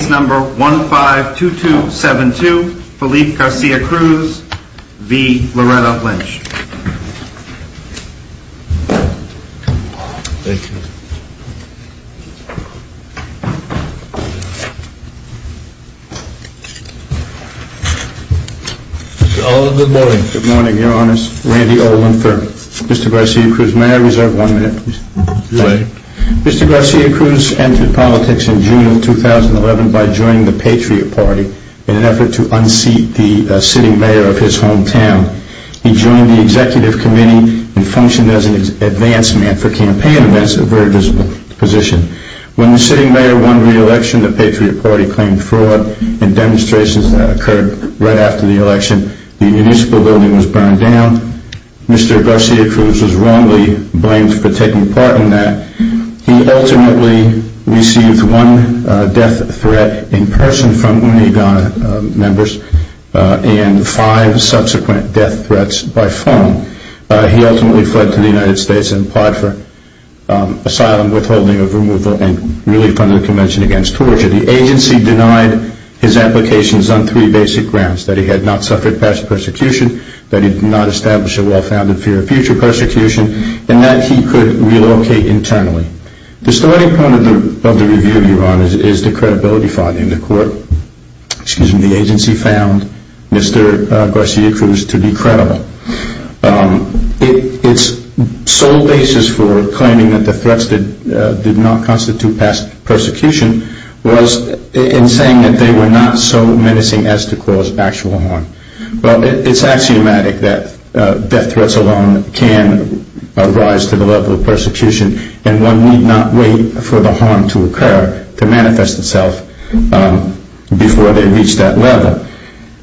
Case number 152272, Felipe Garcia-Cruz v. Loretta Lynch Good morning, your honors. Randy Olin III, Mr. Garcia-Cruz. May I reserve one minute, please? Mr. Garcia-Cruz entered politics in June of 2011 by joining the Patriot Party in an effort to unseat the sitting mayor of his hometown. He joined the executive committee and functioned as an advancement for campaign events, a very visible position. When the sitting mayor won re-election, the Patriot Party claimed fraud and demonstrations that occurred right after the election. The municipal building was burned down. Mr. Garcia-Cruz was wrongly blamed for taking part in that. He ultimately received one death threat in person from UNIDA members and five subsequent death threats by phone. He ultimately fled to the United States and applied for asylum, withholding of removal, and relief under the Convention Against Torture. The agency denied his applications on three basic grounds, that he had not suffered past persecution, that he did not establish a law for future persecution, and that he could relocate internally. The starting point of the review, your honors, is the credibility fraud in the court. The agency found Mr. Garcia-Cruz to be credible. Its sole basis for claiming that the threats did not constitute past persecution was in saying that they were not so menacing as to cause actual harm. It's axiomatic that death threats alone can rise to the level of persecution, and one need not wait for the harm to occur, to manifest itself, before they reach that level.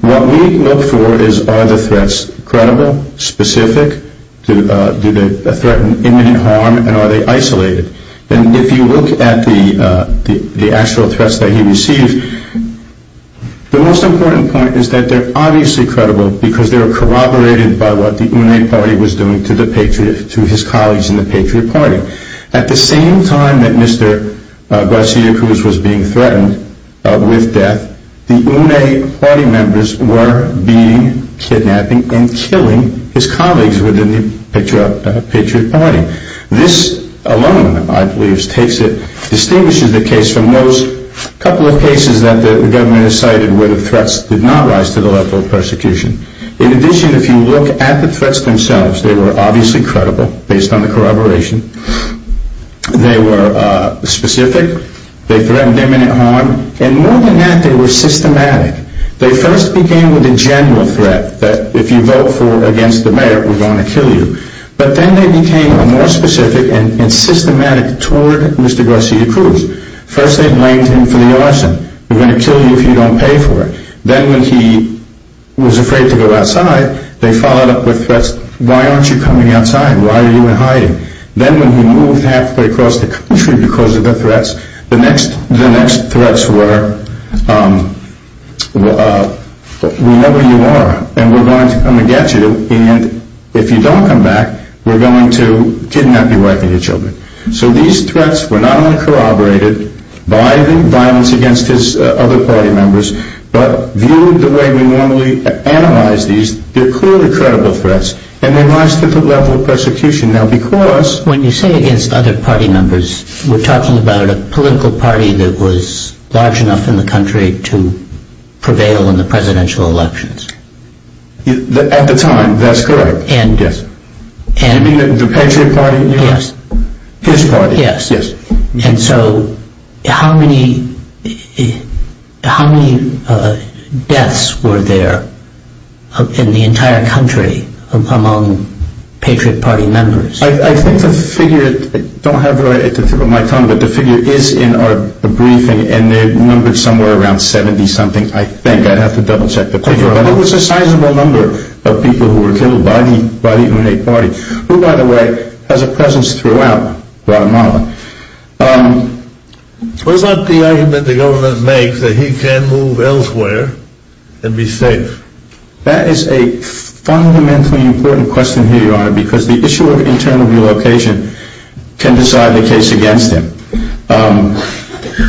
What we look for is, are the threats credible, specific, do they threaten imminent harm, and are they isolated? If you look at the actual threats that he received, the most important point is that they're obviously credible, because they were corroborated by what the UNE party was doing to his colleagues in the Patriot Party. At the same time that Mr. Garcia-Cruz was being threatened with death, the UNE party members were beating, kidnapping, and killing his colleagues within the Patriot Party. This alone, I believe, distinguishes the case from those couple of cases that the government has cited where the threats did not rise to the level of persecution. In addition, if you look at the threats themselves, they were obviously credible, based on the corroboration, they were specific, they threatened imminent harm, and more than that, they were systematic. They first began with a general threat, that if you vote against the mayor, we're going to kill you. But then they became more specific and systematic toward Mr. Garcia-Cruz. First they blamed him for the arson, we're going to kill you if you don't pay for it. Then when he was afraid to go outside, they followed up with threats, why aren't you coming outside, why are you in hiding? Then when he moved halfway across the country because of the threats, the next threats were, we know where you are, and we're going to come and get you, and if you don't come back, we're going to kidnap your wife and your children. So these threats were not only corroborated by the violence against his other party members, but viewed the way we normally analyze these, they're clearly credible threats, and they rise to the level of persecution. When you say against other party members, we're talking about a political party that was large enough in the country to prevail in the presidential elections. At the time, that's correct. You mean the Patriot Party? Yes. His party? Yes. And so how many deaths were there in the entire country among Patriot Party members? I think the figure, I don't have it right at the tip of my tongue, but the figure is in our briefing, and they're numbered somewhere around 70-something, I think, I'd have to double-check the figure. But it was a sizable number of people who were killed by the United Party, who, by the way, has a presence throughout Guatemala. Was that the argument the government makes, that he can move elsewhere and be safe? That is a fundamentally important question here, Your Honor, because the issue of internal relocation can decide the case against him.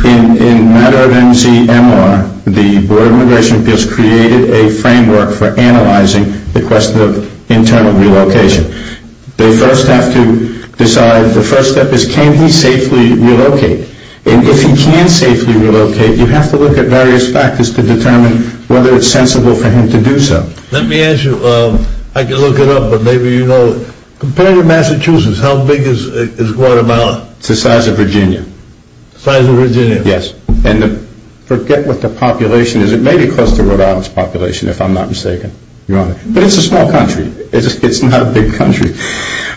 In a matter of MCMR, the Board of Immigration Appeals created a framework for analyzing the question of internal relocation. They first have to decide, the first step is, can he safely relocate? And if he can safely relocate, you have to look at various factors to determine whether it's sensible for him to do so. Let me ask you, I can look it up, but maybe you know, compared to Massachusetts, how big is Guatemala? It's the size of Virginia. The size of Virginia? Yes. And forget what the population is. It may be close to Rhode Island's population, if I'm not mistaken, Your Honor. But it's a small country. It's not a big country.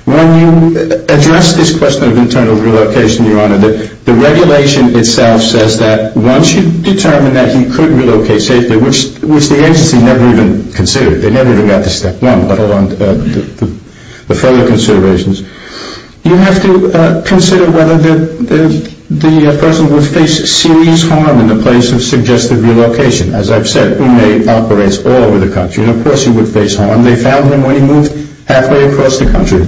When you address this question of internal relocation, Your Honor, the regulation itself says that once you determine that he could relocate safely, which the agency never even considered. They never even got to step one, but hold on to the further considerations. You have to consider whether the person would face serious harm in the place of suggested relocation. As I've said, UMEI operates all over the country, and of course he would face harm. They found him when he moved halfway across the country.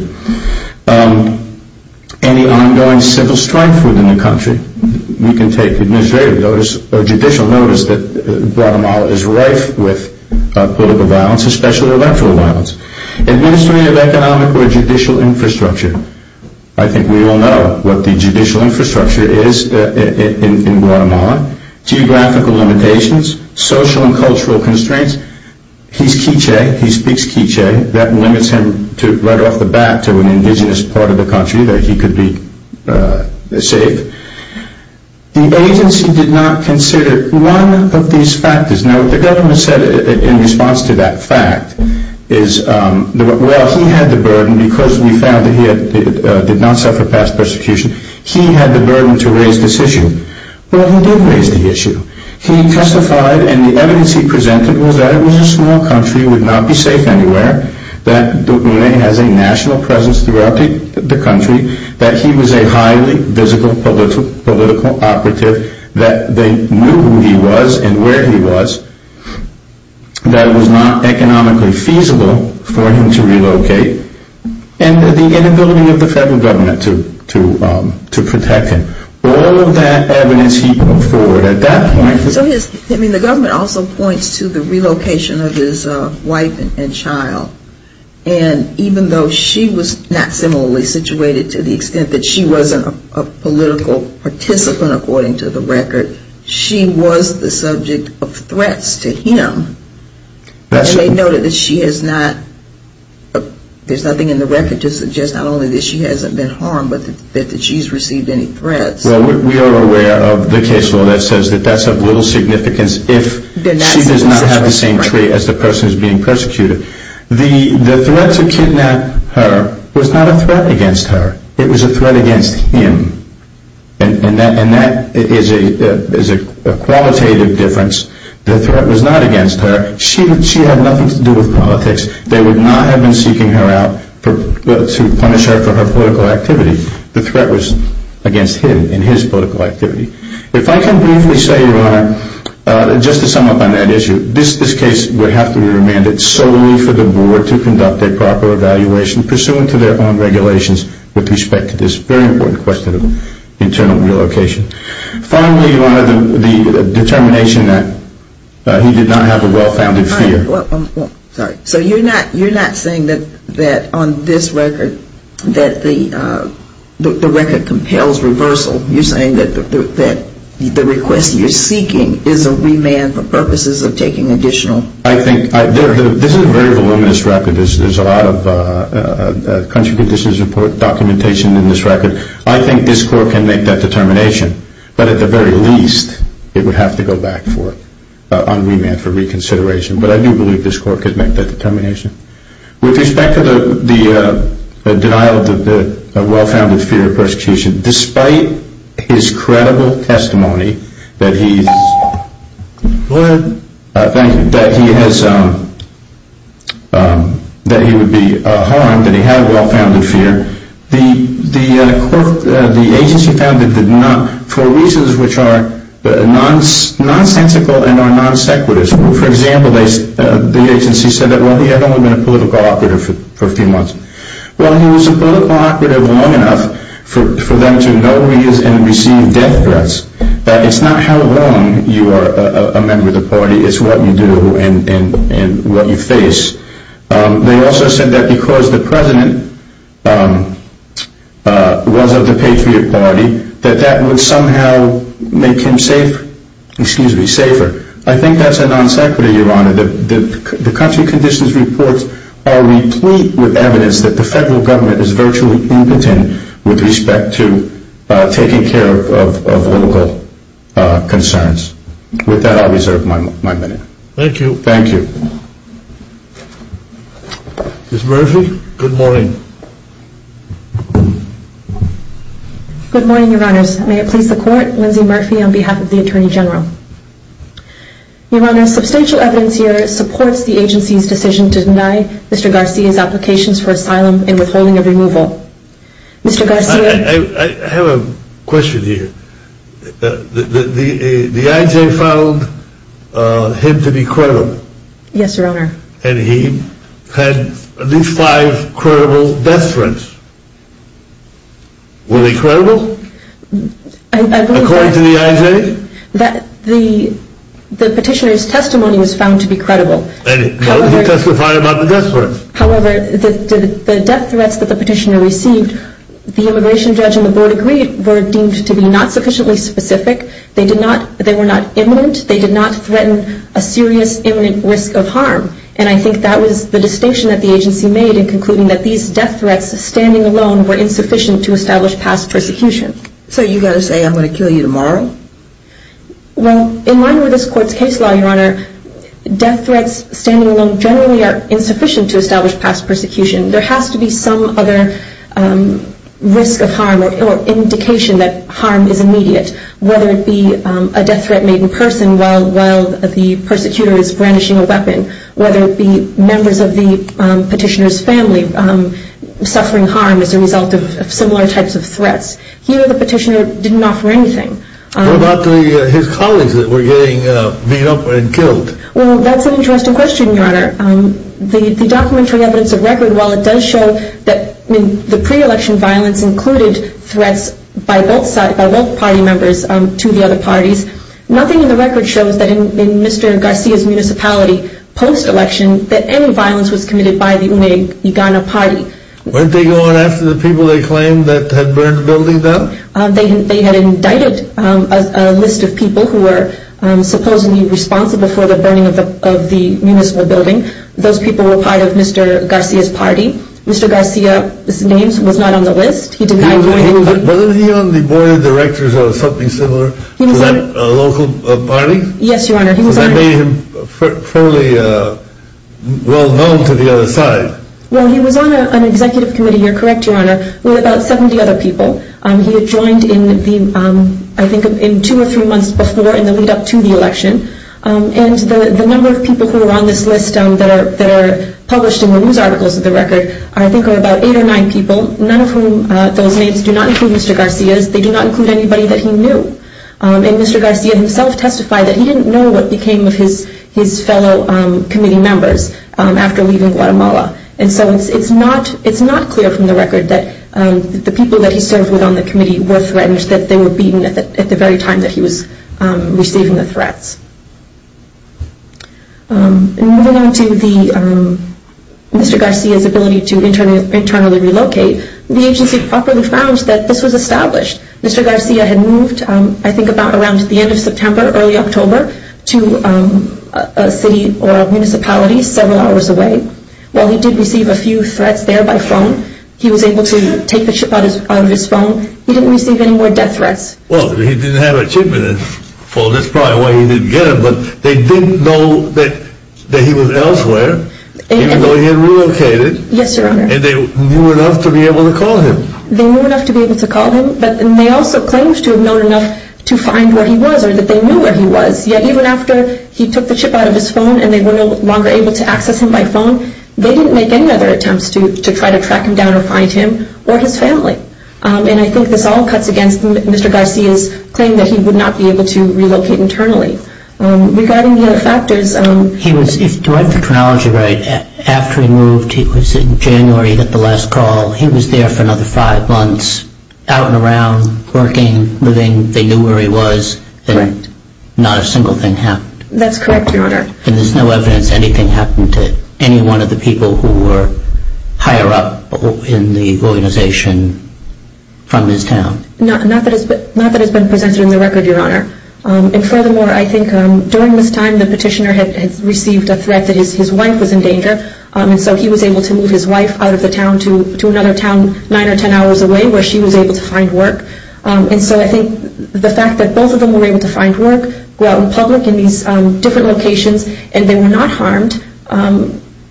Any ongoing civil strife within the country, you can take administrative notice or judicial notice that Guatemala is rife with political violence, especially electoral violence. Administrative, economic, or judicial infrastructure. I think we all know what the judicial infrastructure is in Guatemala. Geographical limitations. Social and cultural constraints. He's K'iche'. He speaks K'iche'. That limits him right off the bat to an indigenous part of the country where he could be safe. The agency did not consider one of these factors. Now, what the government said in response to that fact is, well, he had the burden because we found that he did not suffer past persecution. He had the burden to raise this issue. Well, he did raise the issue. He testified and the evidence he presented was that it was a small country, would not be safe anywhere, that UMEI has a national presence throughout the country, that he was a highly physical political operative, that they knew who he was and where he was, that it was not economically feasible for him to relocate, and the inability of the federal government to protect him. All of that evidence he put forward at that point. I mean, the government also points to the relocation of his wife and child. And even though she was not similarly situated to the extent that she wasn't a political participant, according to the record, she was the subject of threats to him. And they noted that she has not, there's nothing in the record to suggest not only that she hasn't been harmed, but that she's received any threats. Well, we are aware of the case law that says that that's of little significance if she does not have the same trait as the person who's being persecuted. The threat to kidnap her was not a threat against her. It was a threat against him. And that is a qualitative difference. The threat was not against her. She had nothing to do with politics. They would not have been seeking her out to punish her for her political activity. The threat was against him and his political activity. If I can briefly say, Your Honor, just to sum up on that issue, this case would have to be remanded solely for the board to conduct a proper evaluation pursuant to their own regulations with respect to this very important question of internal relocation. Finally, Your Honor, the determination that he did not have a well-founded fear. I'm sorry. So you're not saying that on this record that the record compels reversal. You're saying that the request you're seeking is a remand for purposes of taking additional. I think this is a very voluminous record. There's a lot of country conditions report documentation in this record. I think this court can make that determination. But at the very least, it would have to go back on remand for reconsideration. But I do believe this court could make that determination. With respect to the denial of the well-founded fear of persecution, despite his credible testimony that he would be harmed, that he had a well-founded fear, the agency found that for reasons which are nonsensical and are non-sequitur. For example, the agency said that he had only been a political operative for a few months. Well, he was a political operative long enough for them to know he is in receiving death threats. It's not how long you are a member of the party. It's what you do and what you face. They also said that because the president was of the Patriot Party, that that would somehow make him safer. The country conditions reports are replete with evidence that the federal government is virtually united with respect to taking care of local concerns. With that, I'll reserve my minute. Thank you. Thank you. Ms. Murphy, good morning. Good morning, Your Honors. May it please the Court, Lindsay Murphy on behalf of the Attorney General. Your Honor, substantial evidence here supports the agency's decision to deny Mr. Garcia's applications for asylum and withholding of removal. Mr. Garcia. I have a question here. The I.J. found him to be credible. Yes, Your Honor. And he had at least five credible death threats. Were they credible? According to the I.J.? The petitioner's testimony was found to be credible. And he testified about the death threats. However, the death threats that the petitioner received, the immigration judge and the board agreed, were deemed to be not sufficiently specific. They were not imminent. They did not threaten a serious imminent risk of harm. And I think that was the distinction that the agency made in concluding that these death threats, standing alone, were insufficient to establish past persecution. So you've got to say, I'm going to kill you tomorrow? Well, in line with this Court's case law, Your Honor, death threats standing alone generally are insufficient to establish past persecution. There has to be some other risk of harm or indication that harm is immediate, whether it be a death threat made in person while the persecutor is brandishing a weapon, whether it be members of the petitioner's family suffering harm as a result of similar types of threats. Here, the petitioner didn't offer anything. What about his colleagues that were getting beat up and killed? Well, that's an interesting question, Your Honor. The documentary evidence of record, while it does show that the pre-election violence included threats by both party members to the other parties, nothing in the record shows that in Mr. Garcia's municipality post-election that any violence was committed by the UNEG, the Ghana party. Weren't they going after the people they claimed that had burned the building down? They had indicted a list of people who were supposedly responsible for the burning of the municipal building. Those people were part of Mr. Garcia's party. Mr. Garcia's name was not on the list. Wasn't he on the board of directors or something similar to that local party? Yes, Your Honor. That made him fairly well-known to the other side. Well, he was on an executive committee, you're correct, Your Honor, with about 70 other people. He had joined in, I think, two or three months before in the lead-up to the election. And the number of people who were on this list that are published in the news articles of the record, I think, are about eight or nine people, none of whom those names do not include Mr. Garcia's. They do not include anybody that he knew. And Mr. Garcia himself testified that he didn't know what became of his fellow committee members after leaving Guatemala. And so it's not clear from the record that the people that he served with on the committee were threatened, that they were beaten at the very time that he was receiving the threats. Moving on to Mr. Garcia's ability to internally relocate, the agency properly found that this was established. Mr. Garcia had moved, I think, about around the end of September, early October, to a city or a municipality several hours away. While he did receive a few threats there by phone, he was able to take the ship out of his phone. He didn't receive any more death threats. Well, he didn't have a shipment, and that's probably why he didn't get them. But they didn't know that he was elsewhere, even though he had relocated. Yes, Your Honor. And they knew enough to be able to call him. They knew enough to be able to call him, and they also claimed to have known enough to find where he was or that they knew where he was. Yet even after he took the ship out of his phone and they were no longer able to access him by phone, they didn't make any other attempts to try to track him down or find him or his family. And I think this all cuts against Mr. Garcia's claim that he would not be able to relocate internally. Regarding the other factors. If I get the chronology right, after he moved, it was in January that the last call, he was there for another five months, out and around, working, living. They knew where he was, and not a single thing happened. That's correct, Your Honor. And there's no evidence anything happened to any one of the people who were higher up in the organization from his town? Not that it's been presented in the record, Your Honor. And furthermore, I think during this time, the petitioner had received a threat that his wife was in danger, and so he was able to move his wife out of the town to another town nine or ten hours away where she was able to find work. And so I think the fact that both of them were able to find work, go out in public in these different locations, and they were not harmed,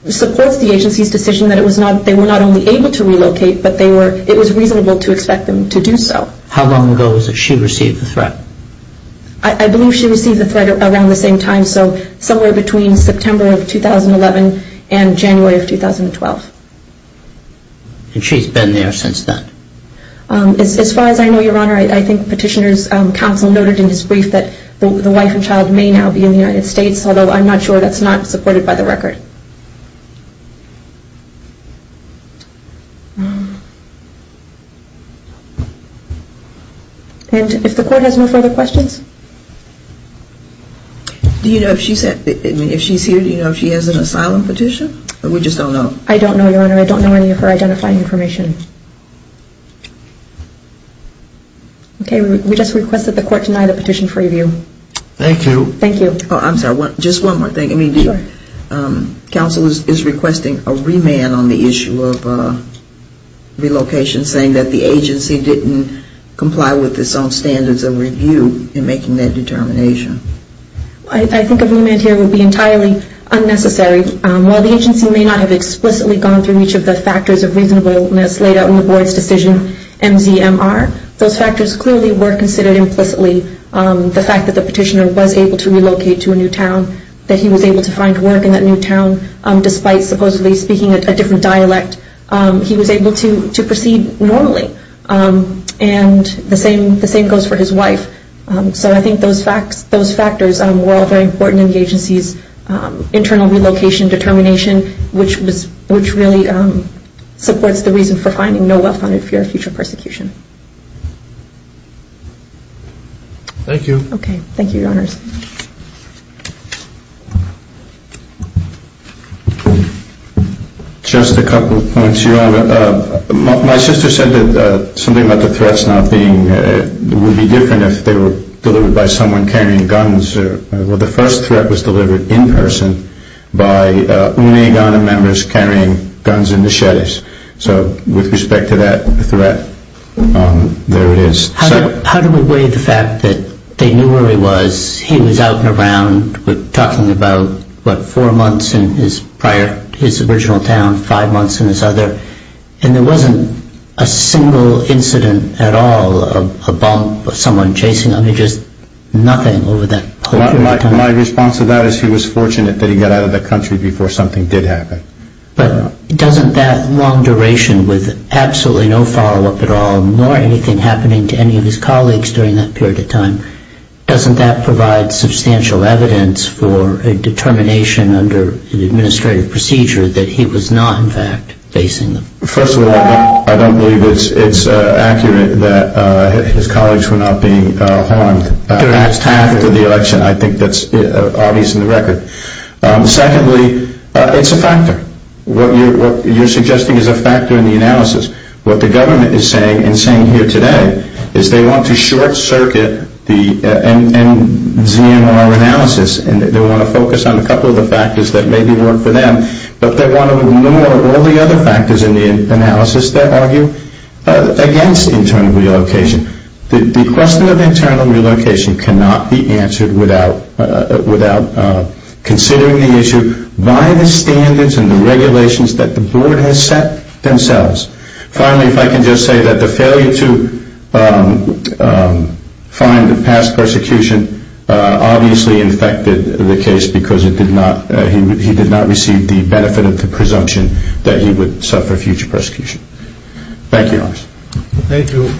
supports the agency's decision that they were not only able to relocate, but it was reasonable to expect them to do so. How long ago was it she received the threat? I believe she received the threat around the same time, so somewhere between September of 2011 and January of 2012. And she's been there since then? As far as I know, Your Honor, I think petitioner's counsel noted in his brief that the wife and child may now be in the United States, although I'm not sure that's not supported by the record. And if the court has no further questions? Do you know if she's here, do you know if she has an asylum petition? We just don't know. I don't know, Your Honor. I don't know any of her identifying information. Okay, we just request that the court deny the petition for review. Thank you. Thank you. I'm sorry, just one more thing. Sure. Counsel is requesting a remand on the issue of relocation, saying that the agency didn't comply with its own standards of review in making that determination. I think a remand here would be entirely unnecessary. While the agency may not have explicitly gone through each of the factors of reasonableness laid out in the board's decision MZMR, those factors clearly were considered implicitly. The fact that the petitioner was able to relocate to a new town, that he was able to find work in that new town, despite supposedly speaking a different dialect, he was able to proceed normally. And the same goes for his wife. So I think those factors were all very important in the agency's internal relocation determination, which really supports the reason for finding no well-founded fear of future persecution. Thank you. Okay. Thank you, Your Honors. Just a couple of points, Your Honor. My sister said that something about the threats not being, would be different if they were delivered by someone carrying guns. Well, the first threat was delivered in person by UNE Ghana members carrying guns and machetes. So with respect to that threat, there it is. How do we weigh the fact that they knew where he was, he was out and around, we're talking about, what, four months in his prior, his original town, five months in his other, and there wasn't a single incident at all, a bump, someone chasing him, just nothing over that period of time. My response to that is he was fortunate that he got out of that country before something did happen. But doesn't that long duration with absolutely no follow-up at all, nor anything happening to any of his colleagues during that period of time, doesn't that provide substantial evidence for a determination under an administrative procedure that he was not, in fact, facing them? First of all, I don't believe it's accurate that his colleagues were not being harmed during the last half of the election. I think that's obvious in the record. Secondly, it's a factor. What you're suggesting is a factor in the analysis. What the government is saying and saying here today is they want to short-circuit the ZMR analysis and they want to focus on a couple of the factors that maybe work for them, but they want to ignore all the other factors in the analysis that argue against internal relocation. The question of internal relocation cannot be answered without considering the issue by the standards and the regulations that the board has set themselves. Finally, if I can just say that the failure to find the past persecution obviously infected the case because he did not receive the benefit of the presumption that he would suffer future persecution. Thank you, Your Honor. Thank you.